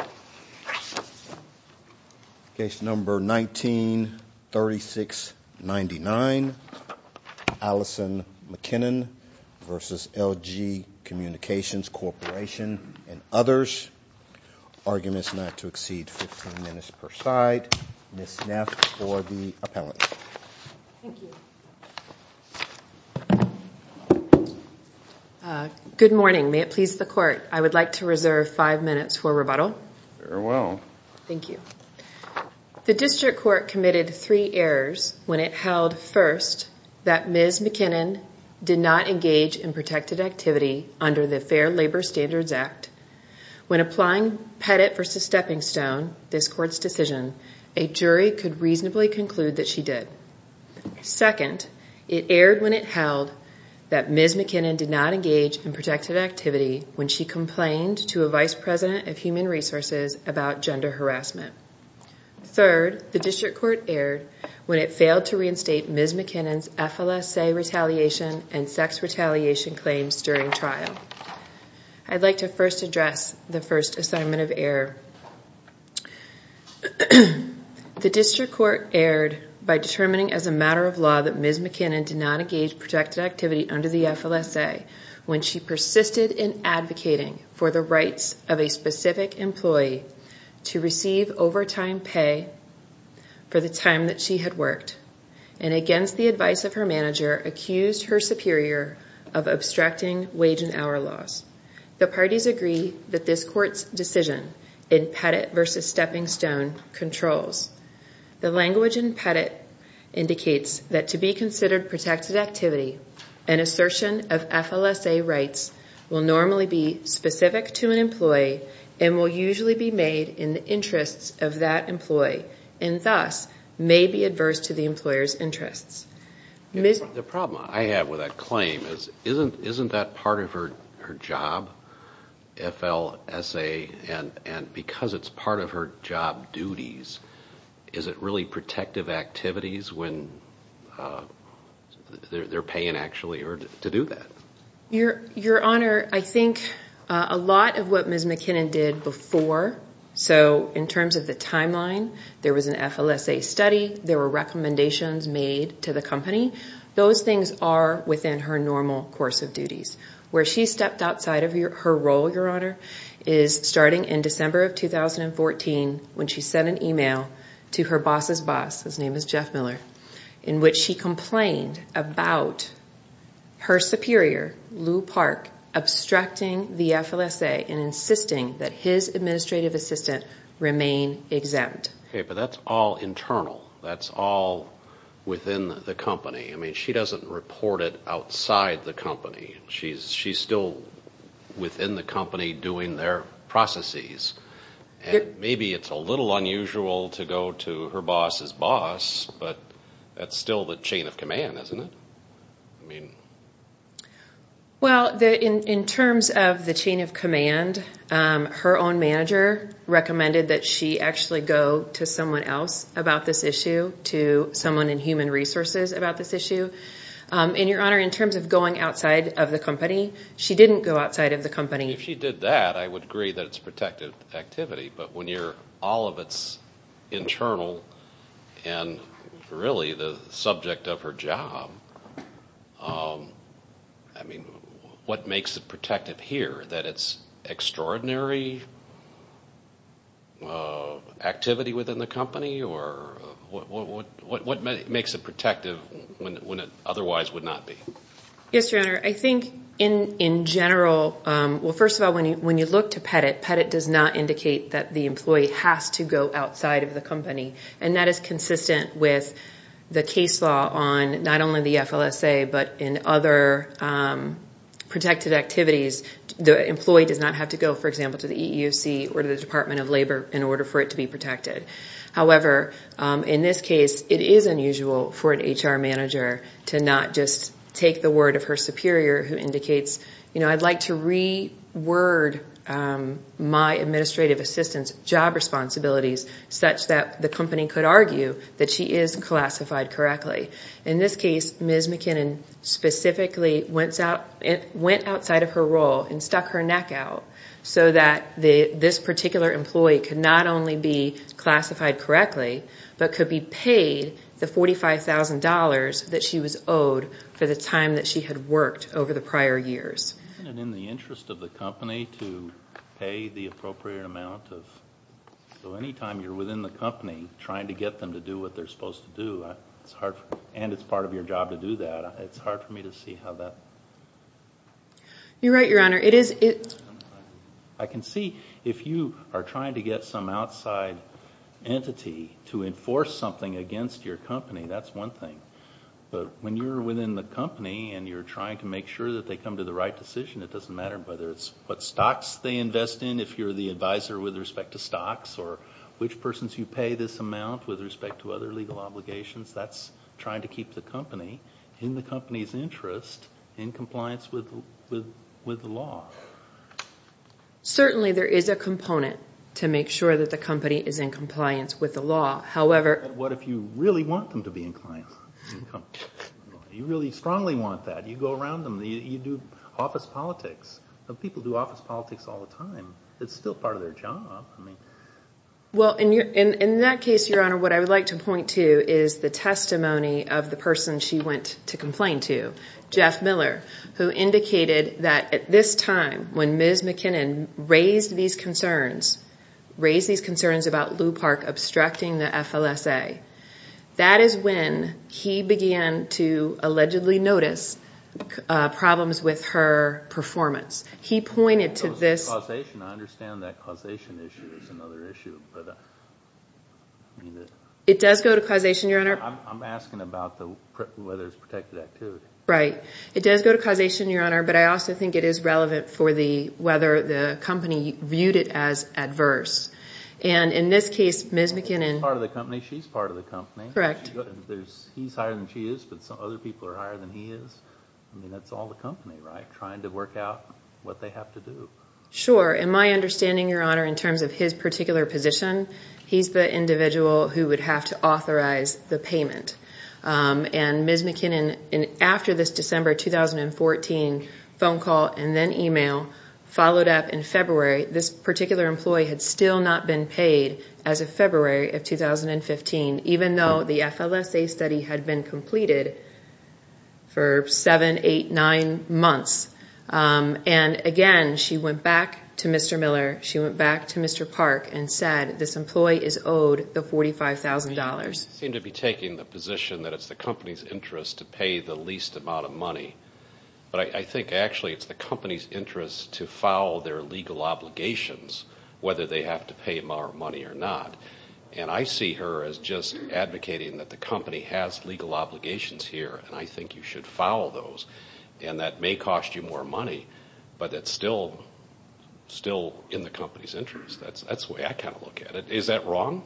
and others. Arguments not to exceed 15 minutes per side. Ms. Neff for the appellant. Good morning. May it please the court. I would like to reserve five minutes for rebuttal. Very well. Thank you. The district court committed three errors when it held, first, that Ms. McKinnon did not engage in protected activity under the Fair Labor Standards Act. When applying Pettit v. Stepping Stone, this court's decision, a jury could reasonably conclude that she did. Second, it erred when it held that Ms. McKinnon did not engage in protected activity when she complained to a vice president of human resources about gender harassment. Third, the district court erred when it failed to reinstate Ms. McKinnon's FLSA retaliation and sex retaliation claims during trial. I'd like to first address the first assignment of error. The district court erred by determining, as a matter of law, that Ms. McKinnon did not engage in protected activity under the FLSA when she persisted in advocating for the rights of a specific employee to receive overtime pay for the time that she had worked and, against the advice of her manager, accused her superior of abstracting wage and hour salaries. The parties agree that this court's decision in Pettit v. Stepping Stone controls. The language in Pettit indicates that to be considered protected activity, an assertion of FLSA rights will normally be specific to an employee and will usually be made in the interests of that employee and, thus, may be adverse to the employer's interests. The problem I have with that claim is, isn't that part of her job, FLSA? And because it's part of her job duties, is it really protective activities when they're paying actually to do that? Your Honor, I think a lot of what Ms. McKinnon did before, so in terms of the timeline, there was an FLSA study, there were recommendations made to the company, those things are within her normal course of duties. Where she stepped outside of her role, Your Honor, is starting in December of 2014 when she sent an email to her boss's boss, whose name is Jeff Miller, in which she complained about her superior, Lou Park, abstracting the FLSA and insisting that his administrative assistant remain exempt. Okay, but that's all internal. That's all within the company. I mean, she doesn't report it outside the company. She's still within the company doing their processes. Maybe it's a little unusual to go to her boss's boss, but that's still the chain of command, isn't it? Well, in terms of the chain of command, her own manager recommended that she actually go to someone else about this issue, to someone in human resources about this issue. And Your Honor, in terms of going outside of the company, she didn't go outside of the company. If she did that, I would agree that it's protective activity, but when all of it's internal and really the subject of her job, I mean, what makes it protective here? That it's extraordinary activity within the company, or what makes it protective when it otherwise would not be? Yes, Your Honor. I think in general, well, first of all, when you look to Pettit, Pettit does not indicate that the employee has to go outside of the company, and that is consistent with the case law on not only the FLSA, but in other protective activities, the employee does not have to go, for example, to the EEOC or the Department of Labor in order for it to be protected. However, in this case, it is unusual for an HR manager to not just take the word of her superior who indicates, you know, I'd like to reword my administrative assistant's job responsibilities such that the company could argue that she is classified correctly. In this case, Ms. McKinnon specifically went outside of her role and stuck her neck out so that this particular employee could not only be classified correctly, but could be paid the $45,000 that she was owed for the time that she had worked over the prior years. Isn't it in the interest of the company to pay the appropriate amount? So anytime you're within the company trying to get them to do what they're supposed to do, and it's part of your job to do that, it's hard for me to see how that... You're right, Your Honor. I can see if you are trying to get some outside entity to enforce something against your company, that's one thing. But when you're within the company and you're trying to make sure that they come to the right decision, it doesn't matter whether it's what stocks they invest in, if you're the advisor with respect to stocks, or which persons you pay this amount with respect to other legal obligations. That's trying to keep the company, in the company's interest, in compliance with the law. Certainly there is a component to make sure that the company is in compliance with the law. What if you really want them to be in compliance with the law? You really strongly want that. You go around them. You do office politics. People do office politics all the time. It's still part of their job. Well, in that case, Your Honor, what I would like to point to is the testimony of the person she went to complain to, Jeff Miller, who indicated that at this time, when Ms. McKinnon raised these concerns, raised these concerns about Lu Park obstructing the FLSA, that is when he began to allegedly notice problems with her performance. I understand that causation issue is another issue. It does go to causation, Your Honor. I'm asking about whether it's protected activity. Right. It does go to causation, Your Honor, but I also think it is relevant for whether the company viewed it as adverse. In this case, Ms. McKinnon... She's part of the company. Correct. He's higher than she is, but other people are higher than he is. That's all the company, right? Trying to work out what they have to do. Sure. In my understanding, Your Honor, in terms of his particular position, he's the individual who would have to authorize the payment. Ms. McKinnon, after this December 2014 phone call and then email, followed up in February. This particular employee had still not been paid as of February of 2015, even though the FLSA study had been completed for seven, eight, nine months. Again, she went back to Mr. Miller. She went back to Mr. Park and said, this employee is owed the $45,000. You seem to be taking the position that it's the company's interest to pay the least amount of money, but I think actually it's the company's interest to foul their legal obligations, whether they have to pay more money or not. And I see her as just advocating that the company has legal obligations here, and I think you should foul those. And that may cost you more money, but it's still in the company's interest. That's the way I kind of look at it. Is that wrong?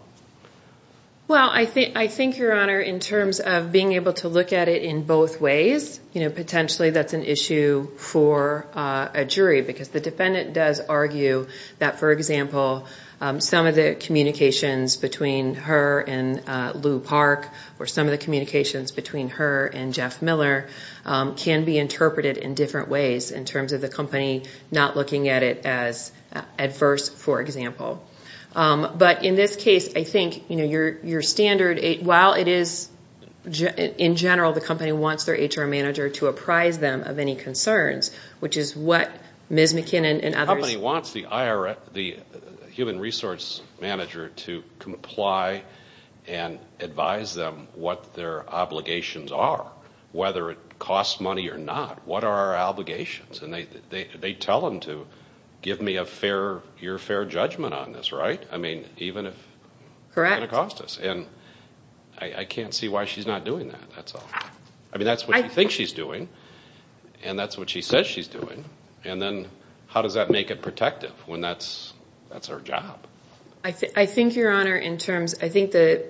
Well, I think, Your Honor, in terms of being able to look at it in both ways, potentially that's an issue for a jury, because the defendant does argue that, for example, some of the communications between her and Lou Park or some of the communications between her and Jeff Miller can be interpreted in different ways, in terms of the company not looking at it as adverse, for example. But in this case, I think your standard, while it is, in general, the company wants their HR manager to apprise them of any concerns, which is what Ms. McKinnon and others... The company wants the human resource manager to comply and advise them what their obligations are, whether it costs money or not. What are our obligations? And they tell them to give me your fair judgment on this, right? I mean, even if it's going to cost us. Correct. And I can't see why she's not doing that, that's all. I mean, that's what she thinks she's doing, and that's what she says she's doing, and then how does that make it protective when that's her job? I think, Your Honor, in terms... I think that,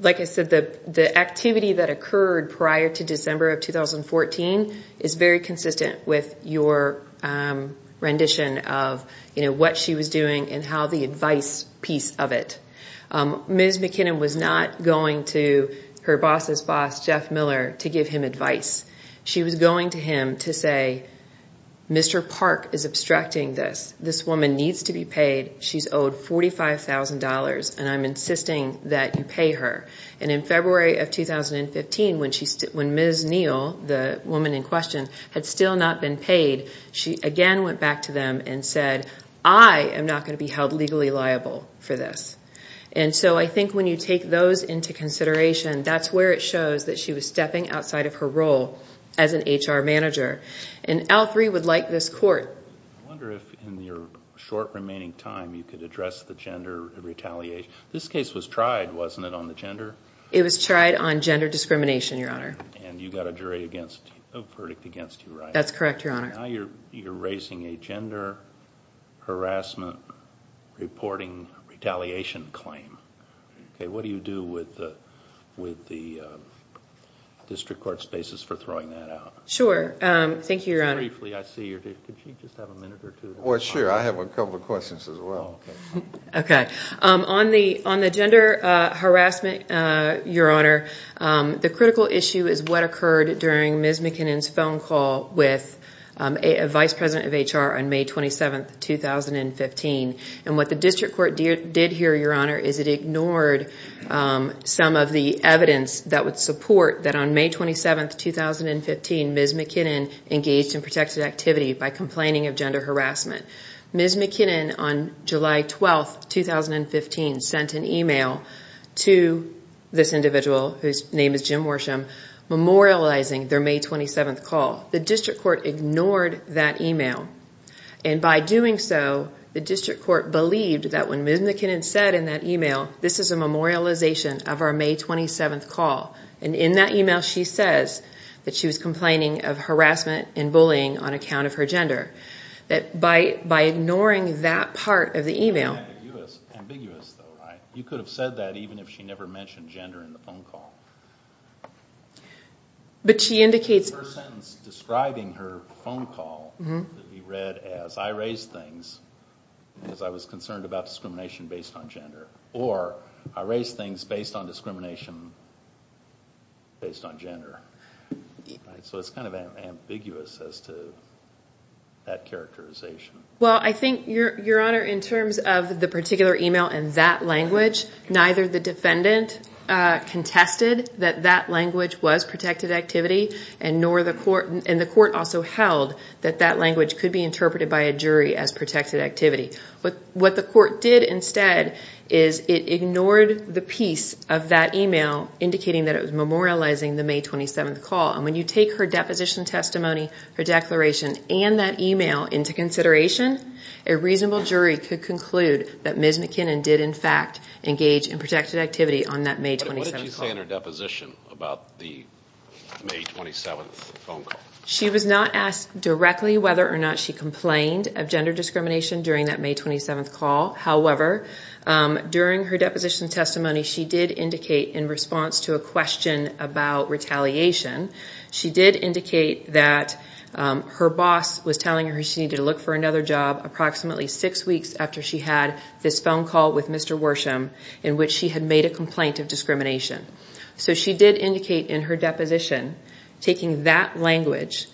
like I said, the activity that occurred prior to December of 2014 is very consistent with your rendition of what she was doing and how the advice piece of it. Ms. McKinnon was not going to her boss's boss, Jeff Miller, to give him advice. She was going to him to say, Mr. Park is obstructing this. This woman needs to be paid. She's owed $45,000, and I'm insisting that you pay her. And in February of 2015, when Ms. Neal, the woman in question, had still not been paid, she again went back to them and said, I am not going to be held legally liable for this. And so I think when you take those into consideration, that's where it shows that she was stepping outside of her role as an HR manager. And L3 would like this court... I wonder if in your short remaining time you could address the gender retaliation. This case was tried, wasn't it, on the gender? It was tried on gender discrimination, Your Honor. And you got a jury against... a verdict against you, right? That's correct, Your Honor. Now you're raising a gender harassment reporting retaliation claim. What do you do with the district court's basis for throwing that out? Sure. Thank you, Your Honor. Briefly, I see you're... Could you just have a minute or two? Well, sure. I have a couple of questions as well. Okay. On the gender harassment, Your Honor, the critical issue is what occurred during Ms. McKinnon's phone call with a vice president of HR on May 27, 2015. And what the district court did hear, Your Honor, is it ignored some of the evidence that would support that on May 27, 2015, Ms. McKinnon engaged in protected activity by complaining of gender harassment. Ms. McKinnon, on July 12, 2015, sent an email to this individual, whose name is Jim Worsham, memorializing their May 27 call. The district court ignored that email. And by doing so, the district court believed that when Ms. McKinnon said in that email, this is a memorialization of our May 27 call, and in that email she says that she was complaining of harassment and bullying on account of her gender. That by ignoring that part of the email... It's ambiguous though, right? You could have said that even if she never mentioned gender in the phone call. But she indicates... The first sentence describing her phone call could be read as, I raised things because I was concerned about discrimination based on gender. Or, I raised things based on discrimination based on gender. So it's kind of ambiguous as to that characterization. Well, I think, Your Honor, in terms of the particular email and that language, neither the defendant contested that that language was protected activity, and the court also held that that language could be interpreted by a jury as protected activity. What the court did instead is it ignored the piece of that email indicating that it was memorializing the May 27 call. And when you take her deposition testimony, her declaration, and that email into consideration, a reasonable jury could conclude that Ms. McKinnon did in fact engage in protected activity on that May 27 call. What did she say in her deposition about the May 27 phone call? She was not asked directly whether or not she complained of gender discrimination during that May 27 call. However, during her deposition testimony, she did indicate in response to a question about retaliation, she did indicate that her boss was telling her she needed to look for another job approximately six weeks after she had this phone call with Mr. Worsham in which she had made a complaint of discrimination. So she did indicate in her deposition, taking that language,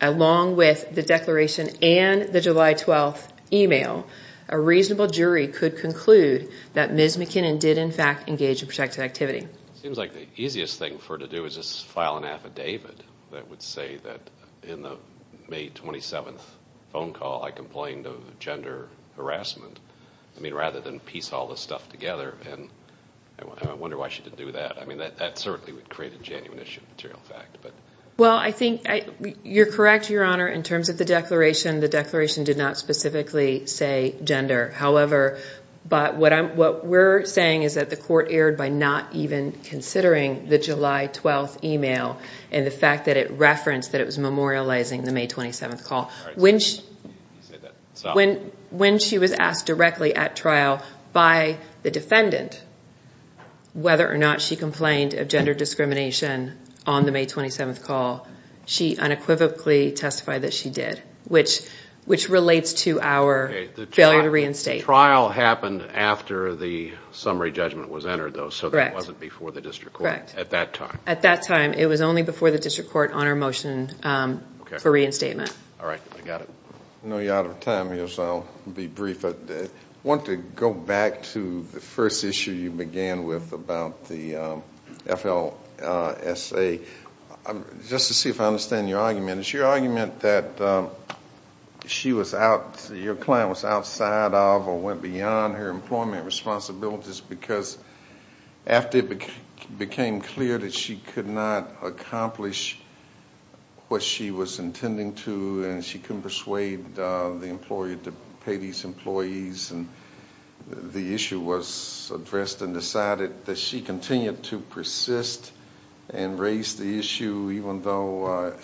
along with the declaration and the July 12 email, a reasonable jury could conclude that Ms. McKinnon did in fact engage in protected activity. It seems like the easiest thing for her to do is just file an affidavit that would say that in the May 27 phone call I complained of gender harassment, rather than piece all this stuff together. I wonder why she didn't do that. That certainly would create a genuine issue of material fact. Well, I think you're correct, Your Honor, in terms of the declaration. The declaration did not specifically say gender. However, what we're saying is that the court erred by not even considering the July 12 email and the fact that it referenced that it was memorializing the May 27 call. When she was asked directly at trial by the defendant whether or not she complained of gender discrimination on the May 27 call, she unequivocally testified that she did, which relates to our failure to reinstate. The trial happened after the summary judgment was entered, though, so it wasn't before the district court at that time. At that time. It was only before the district court on our motion for reinstatement. All right. I got it. I know you're out of time, so I'll be brief. I want to go back to the first issue you began with about the FLSA. Just to see if I understand your argument, it's your argument that your client was outside of or went beyond her employment responsibilities because after it became clear that she could not accomplish what she was intending to and she couldn't persuade the employer to pay these employees and the issue was addressed and decided that she continued to persist and raise the issue even though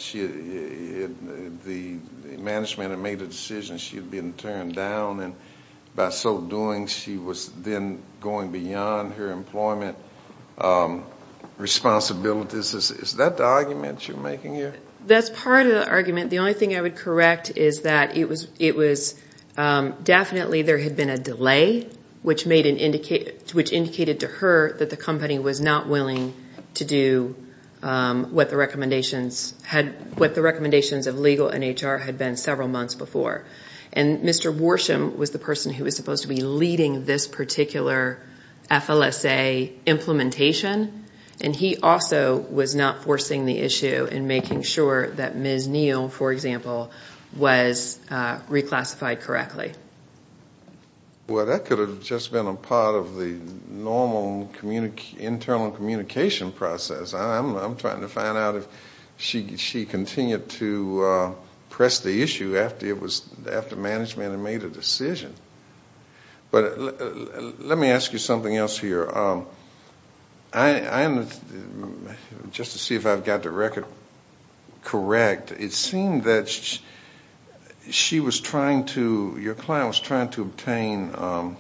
the management had made a decision she had been turned down and by so doing she was then going beyond her employment responsibilities. Is that the argument you're making here? That's part of the argument. The only thing I would correct is that definitely there had been a delay which indicated to her that the company was not willing to do what the recommendations of legal and HR had been several months before. Mr. Worsham was the person who was supposed to be leading this particular FLSA implementation and he also was not forcing the issue and making sure that Ms. Neal, for example, was reclassified correctly. That could have just been a part of the normal internal communication process. I'm trying to find out if she continued to press the issue after management had made a decision. Let me ask you something else here. Just to see if I've got the record correct, it seemed that your client was trying to obtain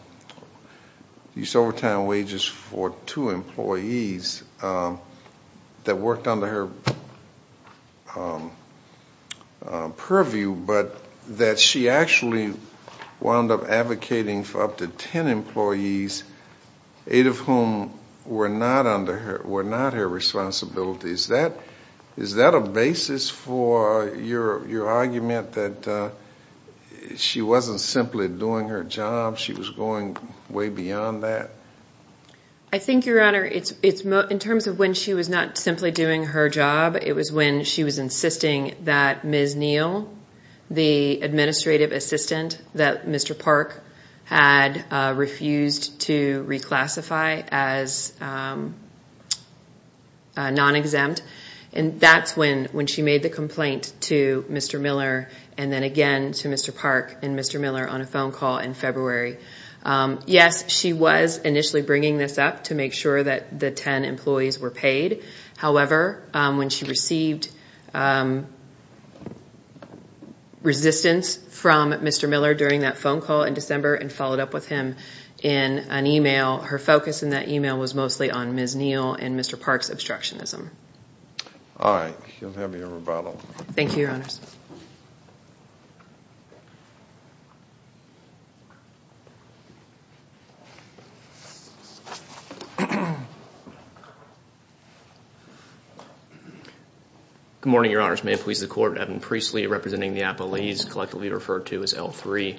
these overtime wages for two employees that worked under her purview but that she actually wound up advocating for up to ten employees, eight of whom were not her responsibility. Is that a basis for your argument that she wasn't simply doing her job? She was going way beyond that? I think, Your Honor, in terms of when she was not simply doing her job, it was when she was insisting that Ms. Neal, the administrative assistant that Mr. Park had refused to reclassify as non-exempt, and that's when she made the complaint to Mr. Miller and then again to Mr. Park and Mr. Miller on a phone call in February. Yes, she was initially bringing this up to make sure that the ten employees were paid. However, when she received resistance from Mr. Miller during that phone call in December and followed up with him in an email, her focus in that email was mostly on Ms. Neal and Mr. Park's obstructionism. All right. You'll have your rebuttal. Thank you, Your Honors. Good morning, Your Honors. May it please the Court. Evan Priestley representing the Appellees, collectively referred to as L3.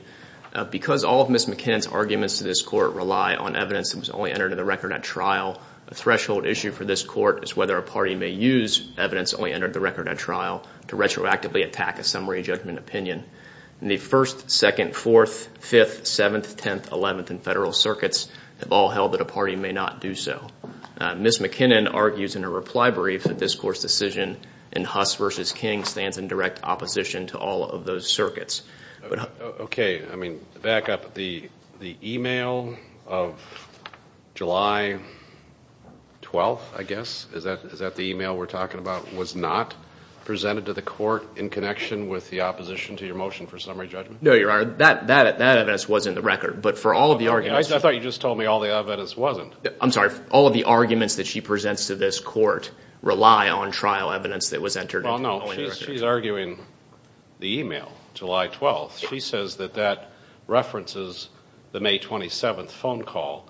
Because all of Ms. McKinnon's arguments to this Court rely on evidence that was only entered into the record at trial, a threshold issue for this Court is whether a party may use evidence only entered into the record at trial to retroactively attack a summary judgment opinion. In the First, Second, Fourth, Fifth, Seventh, Tenth, Eleventh, and Federal circuits, they've all held that a party may not do so. Ms. McKinnon argues in a reply brief that this Court's decision in Huss v. King stands in direct opposition to all of those circuits. Okay. I mean, back up. The email of July 12th, I guess, is that the email we're talking about, was not presented to the Court in connection with the opposition to your motion for summary judgment? No, Your Honor. That evidence was in the record. But for all of the arguments— I thought you just told me all the evidence wasn't. I'm sorry. All of the arguments that she presents to this Court rely on trial evidence that was entered into the record. Well, no. She's arguing the email, July 12th. She says that that references the May 27th phone call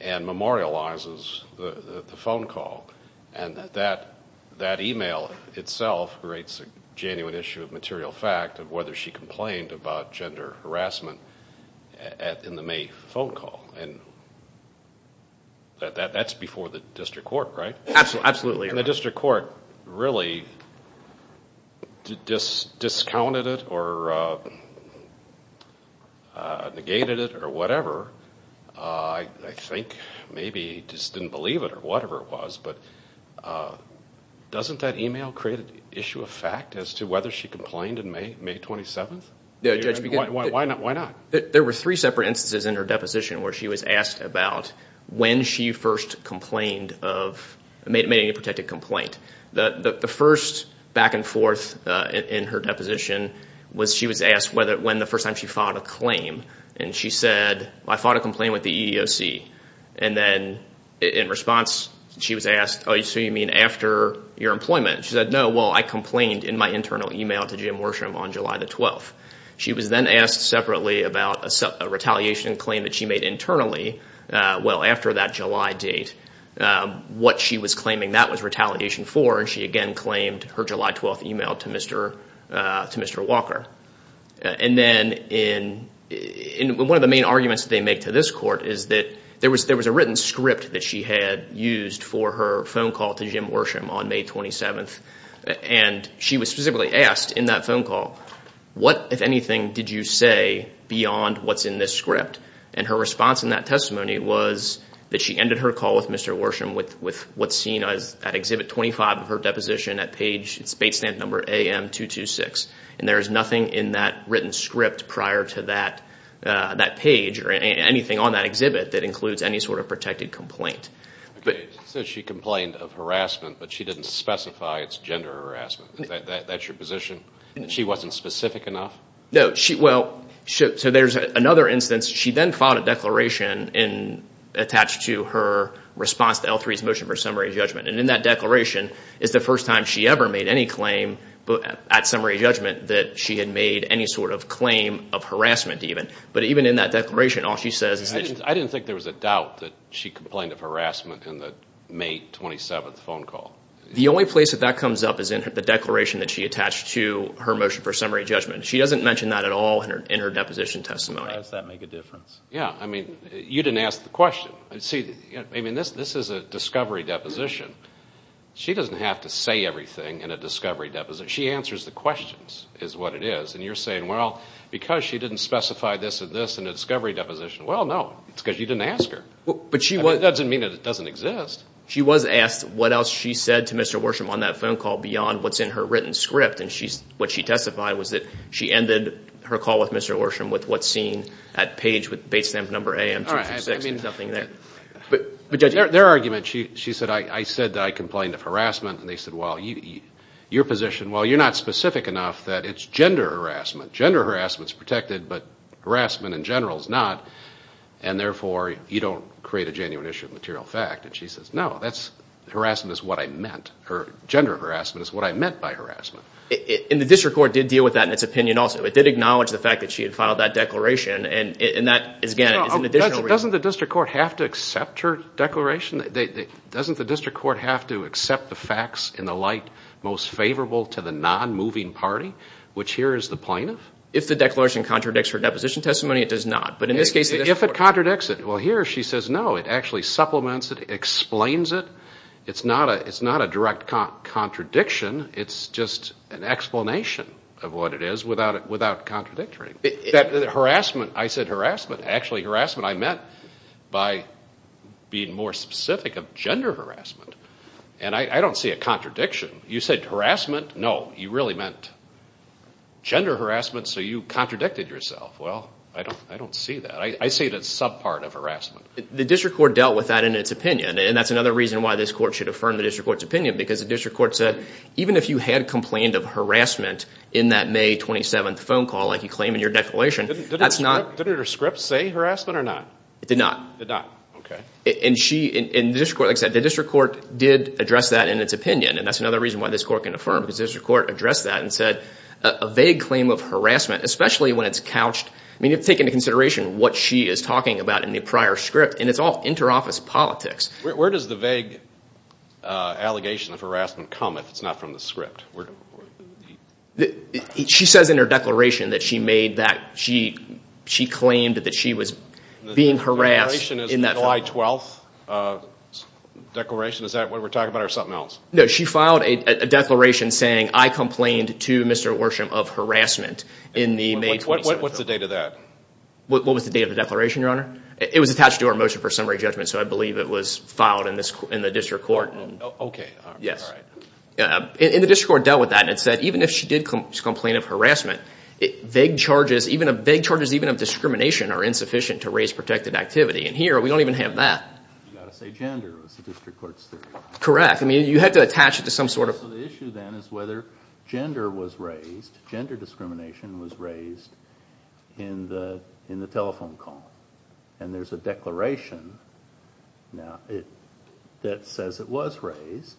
and memorializes the phone call, and that that email itself creates a genuine issue of material fact of whether she complained about gender harassment in the May phone call. And that's before the District Court, right? Absolutely, Your Honor. And the District Court really discounted it or negated it or whatever. I think maybe just didn't believe it or whatever it was. But doesn't that email create an issue of fact as to whether she complained in May 27th? Why not? There were three separate instances in her deposition where she was asked about when she first complained of— made a protected complaint. The first back and forth in her deposition was she was asked when the first time she filed a claim. And she said, I filed a complaint with the EEOC. And then in response, she was asked, oh, so you mean after your employment? She said, no, well, I complained in my internal email to Jim Worsham on July the 12th. She was then asked separately about a retaliation claim that she made internally, well, after that July date, what she was claiming that was retaliation for. And she again claimed her July 12th email to Mr. Walker. And then in—one of the main arguments that they make to this court is that there was a written script that she had used for her phone call to Jim Worsham on May 27th. And she was specifically asked in that phone call, what, if anything, did you say beyond what's in this script? And her response in that testimony was that she ended her call with Mr. Worsham with what's seen at Exhibit 25 of her deposition at page—it's bait stamp number AM226. And there is nothing in that written script prior to that page or anything on that exhibit that includes any sort of protected complaint. So she complained of harassment, but she didn't specify it's gender harassment. That's your position, that she wasn't specific enough? No, she—well, so there's another instance. She then filed a declaration attached to her response to L3's motion for summary judgment. And in that declaration is the first time she ever made any claim at summary judgment that she had made any sort of claim of harassment even. But even in that declaration, all she says is— I didn't think there was a doubt that she complained of harassment in the May 27th phone call. The only place that that comes up is in the declaration that she attached to her motion for summary judgment. She doesn't mention that at all in her deposition testimony. How does that make a difference? Yeah, I mean, you didn't ask the question. See, I mean, this is a discovery deposition. She doesn't have to say everything in a discovery deposition. She answers the questions is what it is. And you're saying, well, because she didn't specify this and this in a discovery deposition. Well, no, it's because you didn't ask her. That doesn't mean that it doesn't exist. She was asked what else she said to Mr. Worsham on that phone call beyond what's in her written script. And what she testified was that she ended her call with Mr. Worsham with what's seen at page, with base stamp number AM-266 and nothing there. Their argument, she said, I said that I complained of harassment. And they said, well, your position, well, you're not specific enough that it's gender harassment. Gender harassment is protected, but harassment in general is not, and therefore you don't create a genuine issue of material fact. And she says, no, harassment is what I meant, or gender harassment is what I meant by harassment. And the district court did deal with that in its opinion also. It did acknowledge the fact that she had filed that declaration, and that, again, is an additional reason. Doesn't the district court have to accept her declaration? Doesn't the district court have to accept the facts in the light most favorable to the non-moving party, which here is the plaintiff? If the declaration contradicts her deposition testimony, it does not. But in this case, the district court. If it contradicts it. Well, here she says, no, it actually supplements it, explains it. It's not a direct contradiction. It's just an explanation of what it is without contradicting. That harassment, I said harassment. Actually, harassment I meant by being more specific of gender harassment. And I don't see a contradiction. You said harassment? No, you really meant gender harassment, so you contradicted yourself. Well, I don't see that. I see it as subpart of harassment. The district court dealt with that in its opinion. And that's another reason why this court should affirm the district court's opinion, because the district court said even if you had complained of harassment in that May 27th phone call, like you claim in your declaration, that's not. Didn't her script say harassment or not? It did not. It did not. Okay. And the district court, like I said, the district court did address that in its opinion. And that's another reason why this court can affirm, because the district court addressed that and said a vague claim of harassment, especially when it's couched. I mean, you have to take into consideration what she is talking about in the prior script. And it's all interoffice politics. Where does the vague allegation of harassment come if it's not from the script? She says in her declaration that she made that. She claimed that she was being harassed in that phone call. The declaration is the July 12th declaration? Is that what we're talking about or something else? No, she filed a declaration saying I complained to Mr. Worsham of harassment in the May 27th phone call. What's the date of that? What was the date of the declaration, Your Honor? It was attached to our motion for summary judgment, so I believe it was filed in the district court. Okay. Yes. And the district court dealt with that and it said even if she did complain of harassment, vague charges, even vague charges of discrimination are insufficient to raise protected activity. And here we don't even have that. You've got to say gender is the district court's theory. Correct. I mean you had to attach it to some sort of – So the issue then is whether gender was raised, gender discrimination was raised in the telephone call. And there's a declaration now that says it was raised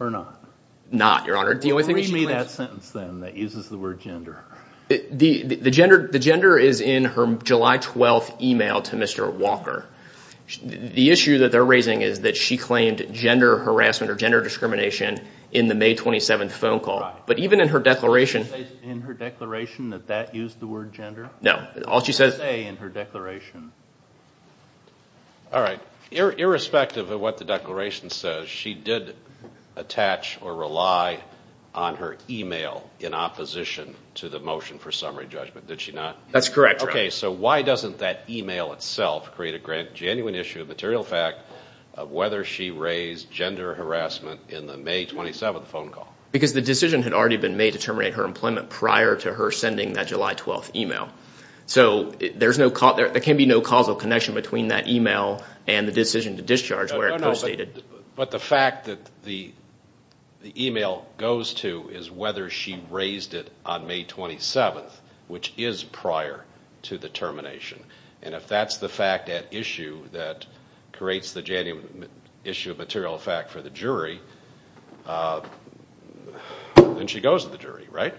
or not. Not, Your Honor. Read me that sentence then that uses the word gender. The gender is in her July 12th email to Mr. Walker. The issue that they're raising is that she claimed gender harassment or gender discrimination in the May 27th phone call. But even in her declaration – Did she say in her declaration that that used the word gender? No. What did she say in her declaration? All right. Irrespective of what the declaration says, she did attach or rely on her email in opposition to the motion for summary judgment, did she not? That's correct, Your Honor. Okay, so why doesn't that email itself create a genuine issue of material fact of whether she raised gender harassment in the May 27th phone call? Because the decision had already been made to terminate her employment prior to her sending that July 12th email. So there can be no causal connection between that email and the decision to discharge where it was stated. But the fact that the email goes to is whether she raised it on May 27th, which is prior to the termination. And if that's the fact at issue that creates the genuine issue of material fact for the jury, then she goes to the jury, right?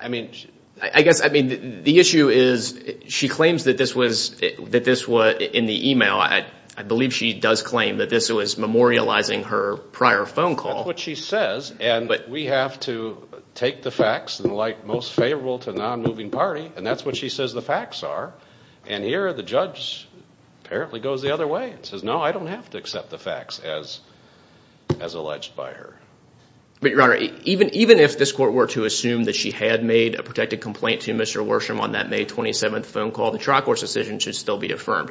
I mean – I guess – I mean the issue is she claims that this was – that this was in the email. I believe she does claim that this was memorializing her prior phone call. That's what she says, and we have to take the facts in the light most favorable to the non-moving party, and that's what she says the facts are. And here the judge apparently goes the other way and says, no, I don't have to accept the facts as alleged by her. But, Your Honor, even if this court were to assume that she had made a protected complaint to Mr. Worsham on that May 27th phone call, the tri-courts decision should still be affirmed.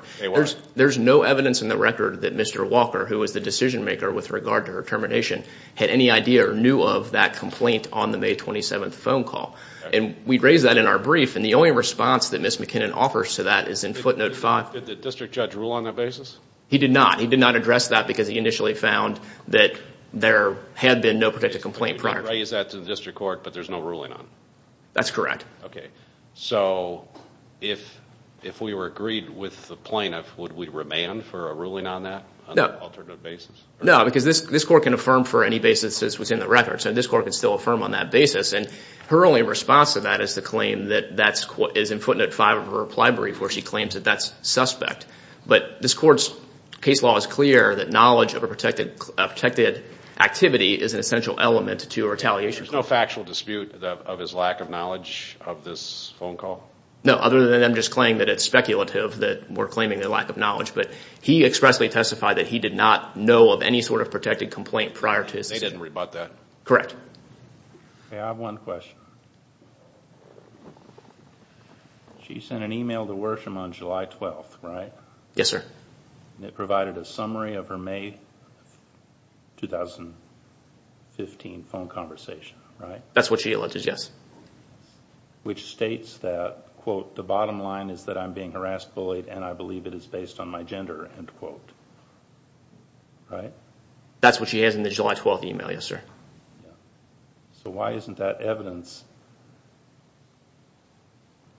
There's no evidence in the record that Mr. Walker, who was the decision maker with regard to her termination, had any idea or knew of that complaint on the May 27th phone call. And we raised that in our brief, and the only response that Ms. McKinnon offers to that is in footnote 5. Did the district judge rule on that basis? He did not. He did not address that because he initially found that there had been no protected complaint prior to that. You raised that to the district court, but there's no ruling on it? That's correct. Okay. So, if we were agreed with the plaintiff, would we remand for a ruling on that on an alternative basis? No, because this court can affirm for any basis that's within the record, so this court can still affirm on that basis. And her only response to that is to claim that that's in footnote 5 of her reply brief where she claims that that's suspect. But this court's case law is clear that knowledge of a protected activity is an essential element to a retaliation. There's no factual dispute of his lack of knowledge of this phone call? No, other than them just claiming that it's speculative that we're claiming their lack of knowledge. But he expressly testified that he did not know of any sort of protected complaint prior to his decision. They didn't rebut that? Correct. Okay, I have one question. She sent an email to Worsham on July 12th, right? Yes, sir. It provided a summary of her May 2015 phone conversation, right? That's what she alleged, yes. Which states that, quote, the bottom line is that I'm being harassed, bullied, and I believe it is based on my gender, end quote. Right? That's what she has in the July 12th email, yes, sir. So why isn't that evidence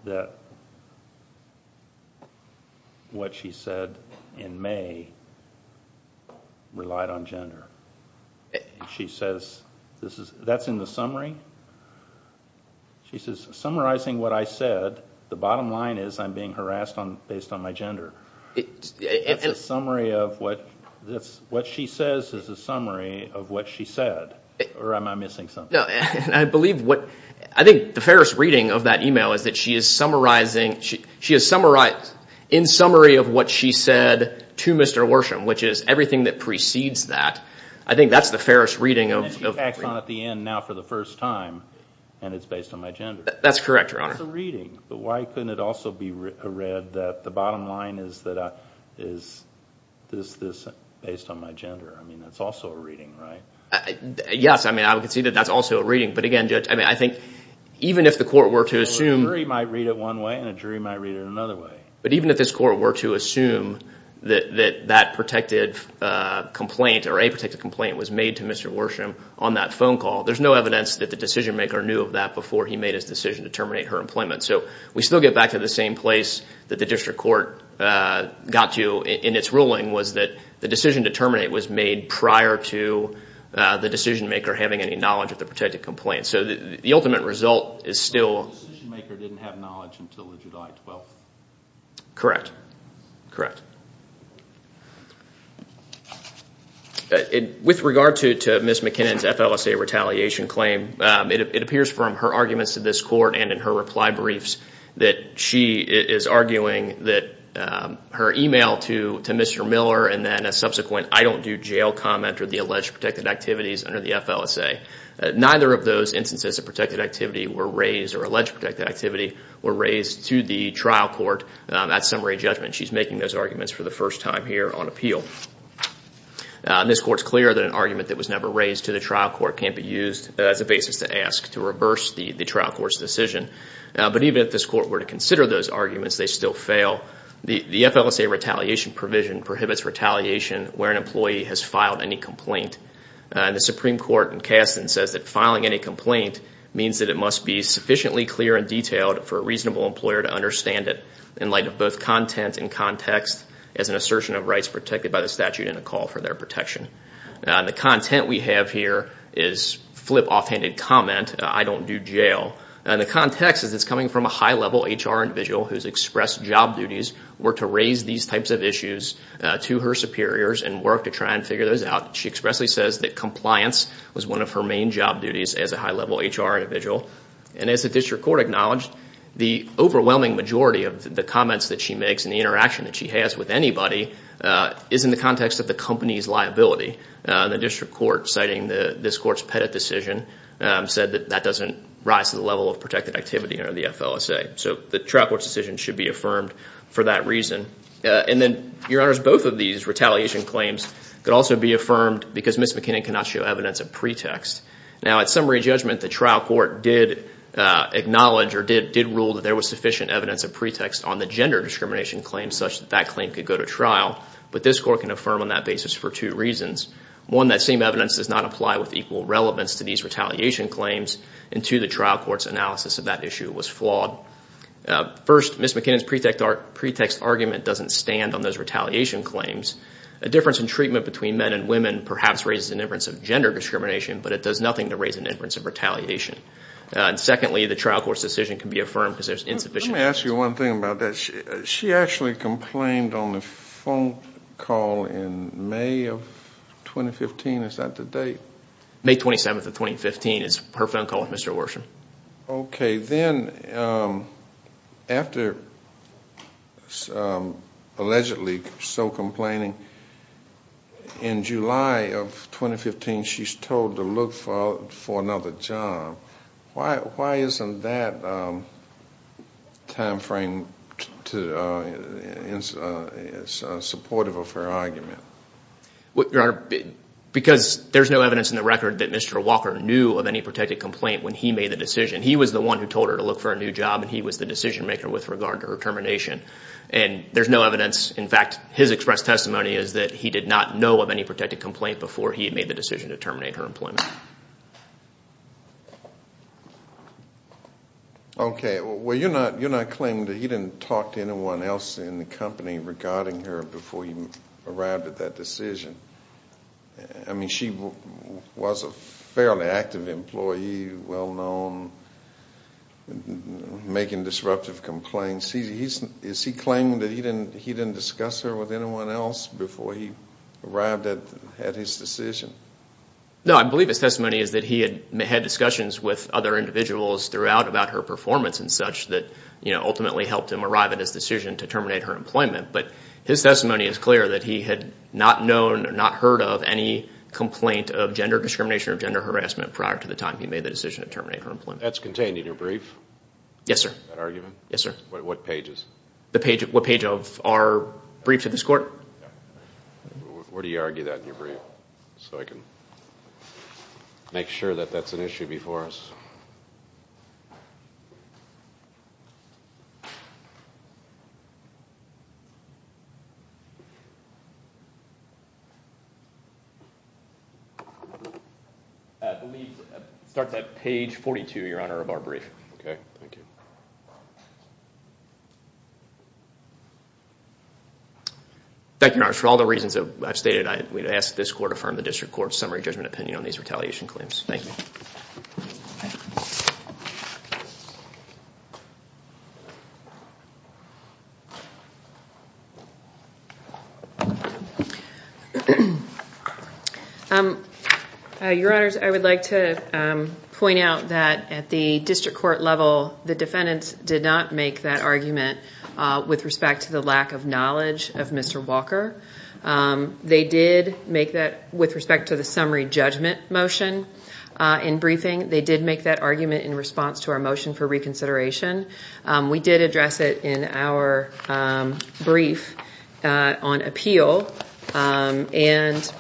that what she said in May relied on gender? She says that's in the summary? She says, summarizing what I said, the bottom line is I'm being harassed based on my gender. That's a summary of what she says is a summary of what she said? Or am I missing something? I think the fairest reading of that email is that she is in summary of what she said to Mr. Worsham, which is everything that precedes that. I think that's the fairest reading. And she acts on it at the end now for the first time, and it's based on my gender. That's correct, Your Honor. That's a reading. But why couldn't it also be read that the bottom line is that this is based on my gender? I mean, that's also a reading, right? Yes. I mean, I would concede that that's also a reading. But again, Judge, I think even if the court were to assume— A jury might read it one way and a jury might read it another way. But even if this court were to assume that that protected complaint or a protected complaint was made to Mr. Worsham on that phone call, there's no evidence that the decision-maker knew of that before he made his decision to terminate her employment. So we still get back to the same place that the district court got to in its ruling, was that the decision to terminate was made prior to the decision-maker having any knowledge of the protected complaint. So the ultimate result is still— The decision-maker didn't have knowledge until the July 12th. Correct. Correct. With regard to Ms. McKinnon's FLSA retaliation claim, it appears from her arguments to this court and in her reply briefs that she is arguing that her email to Mr. Miller and then a subsequent I don't do jail comment or the alleged protected activities under the FLSA, neither of those instances of protected activity were raised or alleged protected activity were raised to the trial court at summary judgment. She's making those arguments for the first time here on appeal. This court's clear that an argument that was never raised to the trial court can't be used as a basis to ask to reverse the trial court's decision. But even if this court were to consider those arguments, they still fail. The FLSA retaliation provision prohibits retaliation where an employee has filed any complaint. The Supreme Court in Kasten says that filing any complaint means that it must be sufficiently clear and detailed for a reasonable employer to understand it in light of both content and context as an assertion of rights protected by the statute and a call for their protection. The content we have here is flip offhanded comment, I don't do jail. And the context is it's coming from a high level HR individual whose expressed job duties were to raise these types of issues to her superiors and work to try and figure those out. She expressly says that compliance was one of her main job duties as a high level HR individual. And as the district court acknowledged, the overwhelming majority of the comments that she makes and the interaction that she has with anybody is in the context of the company's liability. And the district court, citing this court's Pettit decision, said that that doesn't rise to the level of protected activity under the FLSA. So the trial court's decision should be affirmed for that reason. And then, Your Honors, both of these retaliation claims could also be affirmed because Ms. McKinnon cannot show evidence of pretext. Now, at summary judgment, the trial court did acknowledge or did rule that there was sufficient evidence of pretext on the gender discrimination claim such that that claim could go to trial. But this court can affirm on that basis for two reasons. One, that same evidence does not apply with equal relevance to these retaliation claims. And two, the trial court's analysis of that issue was flawed. First, Ms. McKinnon's pretext argument doesn't stand on those retaliation claims. A difference in treatment between men and women perhaps raises an inference of gender discrimination, but it does nothing to raise an inference of retaliation. And secondly, the trial court's decision can be affirmed because there's insufficient evidence. Let me ask you one thing about that. She actually complained on the phone call in May of 2015. Is that the date? May 27th of 2015 is her phone call with Mr. Worsham. Okay. Then after allegedly so complaining, in July of 2015, she's told to look for another job. Why isn't that timeframe supportive of her argument? Your Honor, because there's no evidence in the record that Mr. Walker knew of any protected complaint when he made the decision. He was the one who told her to look for a new job, and he was the decision maker with regard to her termination. And there's no evidence. In fact, his expressed testimony is that he did not know of any protected complaint before he had made the decision to terminate her employment. Okay. Well, you're not claiming that he didn't talk to anyone else in the company regarding her before he arrived at that decision. I mean, she was a fairly active employee, well-known, making disruptive complaints. Is he claiming that he didn't discuss her with anyone else before he arrived at his decision? No, I believe his testimony is that he had had discussions with other individuals throughout about her performance and such that, you know, ultimately helped him arrive at his decision to terminate her employment. But his testimony is clear that he had not known or not heard of any complaint of gender discrimination or gender harassment prior to the time he made the decision to terminate her employment. That's contained in your brief? Yes, sir. That argument? Yes, sir. What page is? What page of our brief to this Court? Where do you argue that in your brief? So I can make sure that that's an issue before us. Start that page 42, Your Honor, of our brief. Okay, thank you. Thank you, Your Honor. For all the reasons that I've stated, we'd ask that this Court affirm the District Court's summary judgment opinion on these retaliation claims. Thank you. Thank you. Your Honors, I would like to point out that at the District Court level, the defendants did not make that argument with respect to the lack of knowledge of Mr. Walker. They did make that with respect to the summary judgment motion in briefing. They did make that argument in response to our motion for reconsideration. We did address it in our brief on appeal. And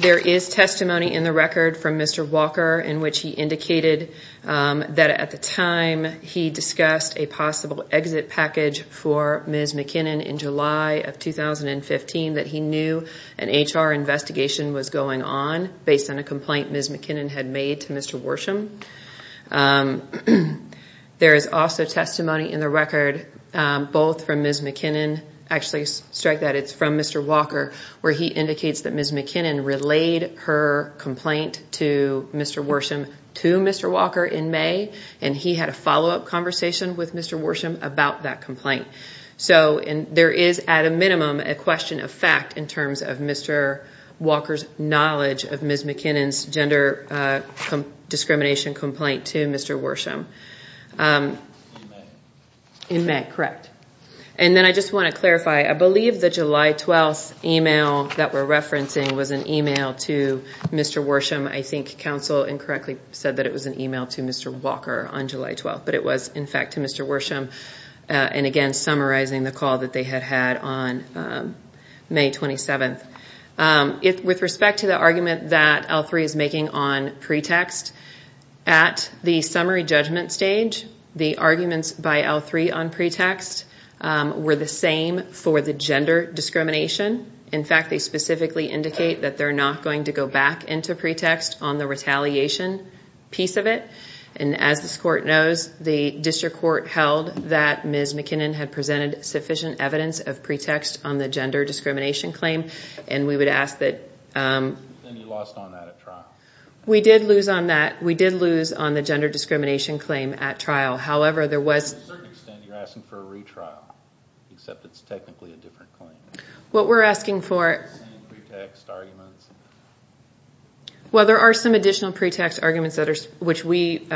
there is testimony in the record from Mr. Walker in which he indicated that at the time he discussed a possible exit package for Ms. McKinnon in July of 2015 that he knew an HR investigation was going on based on a complaint Ms. McKinnon had made to Mr. Worsham. There is also testimony in the record, both from Ms. McKinnon, actually strike that it's from Mr. Walker, where he indicates that Ms. McKinnon relayed her complaint to Mr. Worsham to Mr. Walker in May, and he had a follow-up conversation with Mr. Worsham about that complaint. There is, at a minimum, a question of fact in terms of Mr. Walker's knowledge of Ms. McKinnon's gender discrimination complaint to Mr. Worsham. In May, correct. And then I just want to clarify, I believe the July 12th email that we're referencing was an email to Mr. Worsham. I think counsel incorrectly said that it was an email to Mr. Walker on July 12th, but it was in fact to Mr. Worsham. And again, summarizing the call that they had had on May 27th. With respect to the argument that L3 is making on pretext, at the summary judgment stage, the arguments by L3 on pretext were the same for the gender discrimination. In fact, they specifically indicate that they're not going to go back into pretext on the retaliation piece of it. And as this court knows, the district court held that Ms. McKinnon had presented sufficient evidence of pretext on the gender discrimination claim. And we would ask that... And you lost on that at trial. We did lose on that. We did lose on the gender discrimination claim at trial. However, there was... To a certain extent, you're asking for a retrial, except it's technically a different claim. What we're asking for... Same pretext arguments. Well, there are some additional pretext arguments which we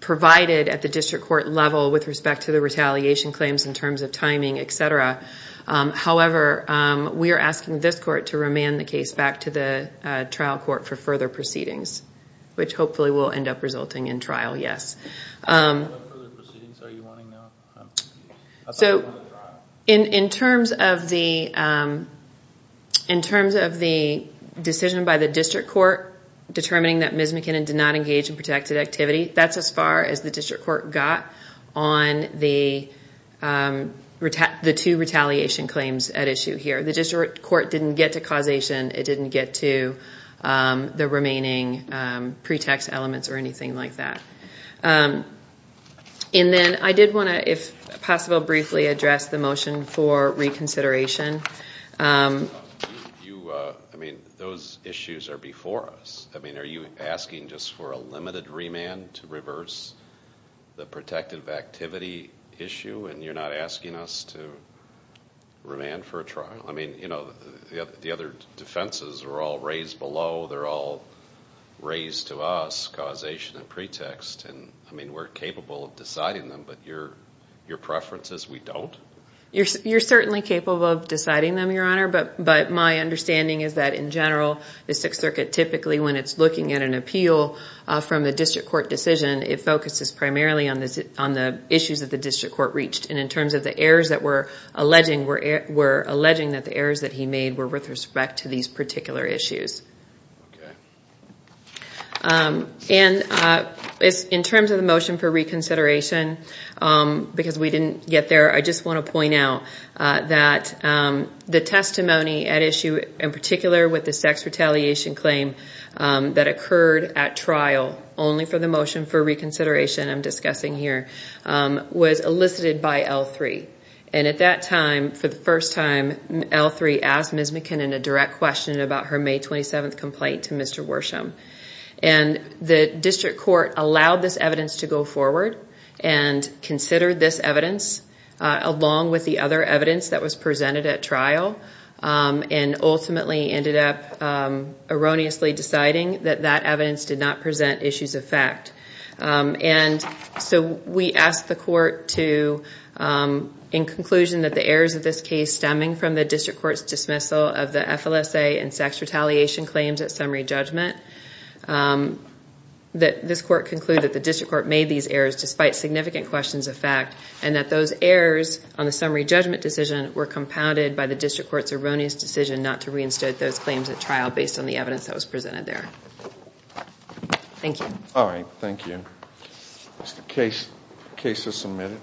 provided at the district court level with respect to the retaliation claims in terms of timing, etc. However, we are asking this court to remand the case back to the trial court for further proceedings, which hopefully will end up resulting in trial, yes. What further proceedings are you wanting now? So, in terms of the decision by the district court determining that Ms. McKinnon did not engage in protected activity, that's as far as the district court got on the two retaliation claims at issue here. The district court didn't get to causation. It didn't get to the remaining pretext elements or anything like that. And then I did want to, if possible, briefly address the motion for reconsideration. I mean, those issues are before us. I mean, are you asking just for a limited remand to reverse the protected activity issue, and you're not asking us to remand for a trial? I mean, you know, the other defenses are all raised below. They're all raised to us, causation and pretext. I mean, we're capable of deciding them, but your preference is we don't? You're certainly capable of deciding them, Your Honor, but my understanding is that in general, the Sixth Circuit typically, when it's looking at an appeal from the district court decision, it focuses primarily on the issues that the district court reached. And in terms of the errors that we're alleging, we're alleging that the errors that he made were with respect to these particular issues. And in terms of the motion for reconsideration, because we didn't get there, I just want to point out that the testimony at issue, in particular with the sex retaliation claim that occurred at trial only for the motion for reconsideration I'm discussing here, was elicited by L3. And at that time, for the first time, L3 asked Ms. McKinnon a direct question about her May 27th complaint to Mr. Worsham. And the district court allowed this evidence to go forward and considered this evidence along with the other evidence that was presented at trial and ultimately ended up erroneously deciding that that evidence did not present issues of fact. And so we asked the court to, in conclusion that the errors of this case stemming from the district court's dismissal of the FLSA and sex retaliation claims at summary judgment, that this court conclude that the district court made these errors despite significant questions of fact and that those errors on the summary judgment decision were compounded by the district court's erroneous decision not to reinstate those claims at trial based on the evidence that was presented there. Thank you. All right. Thank you. Case is submitted.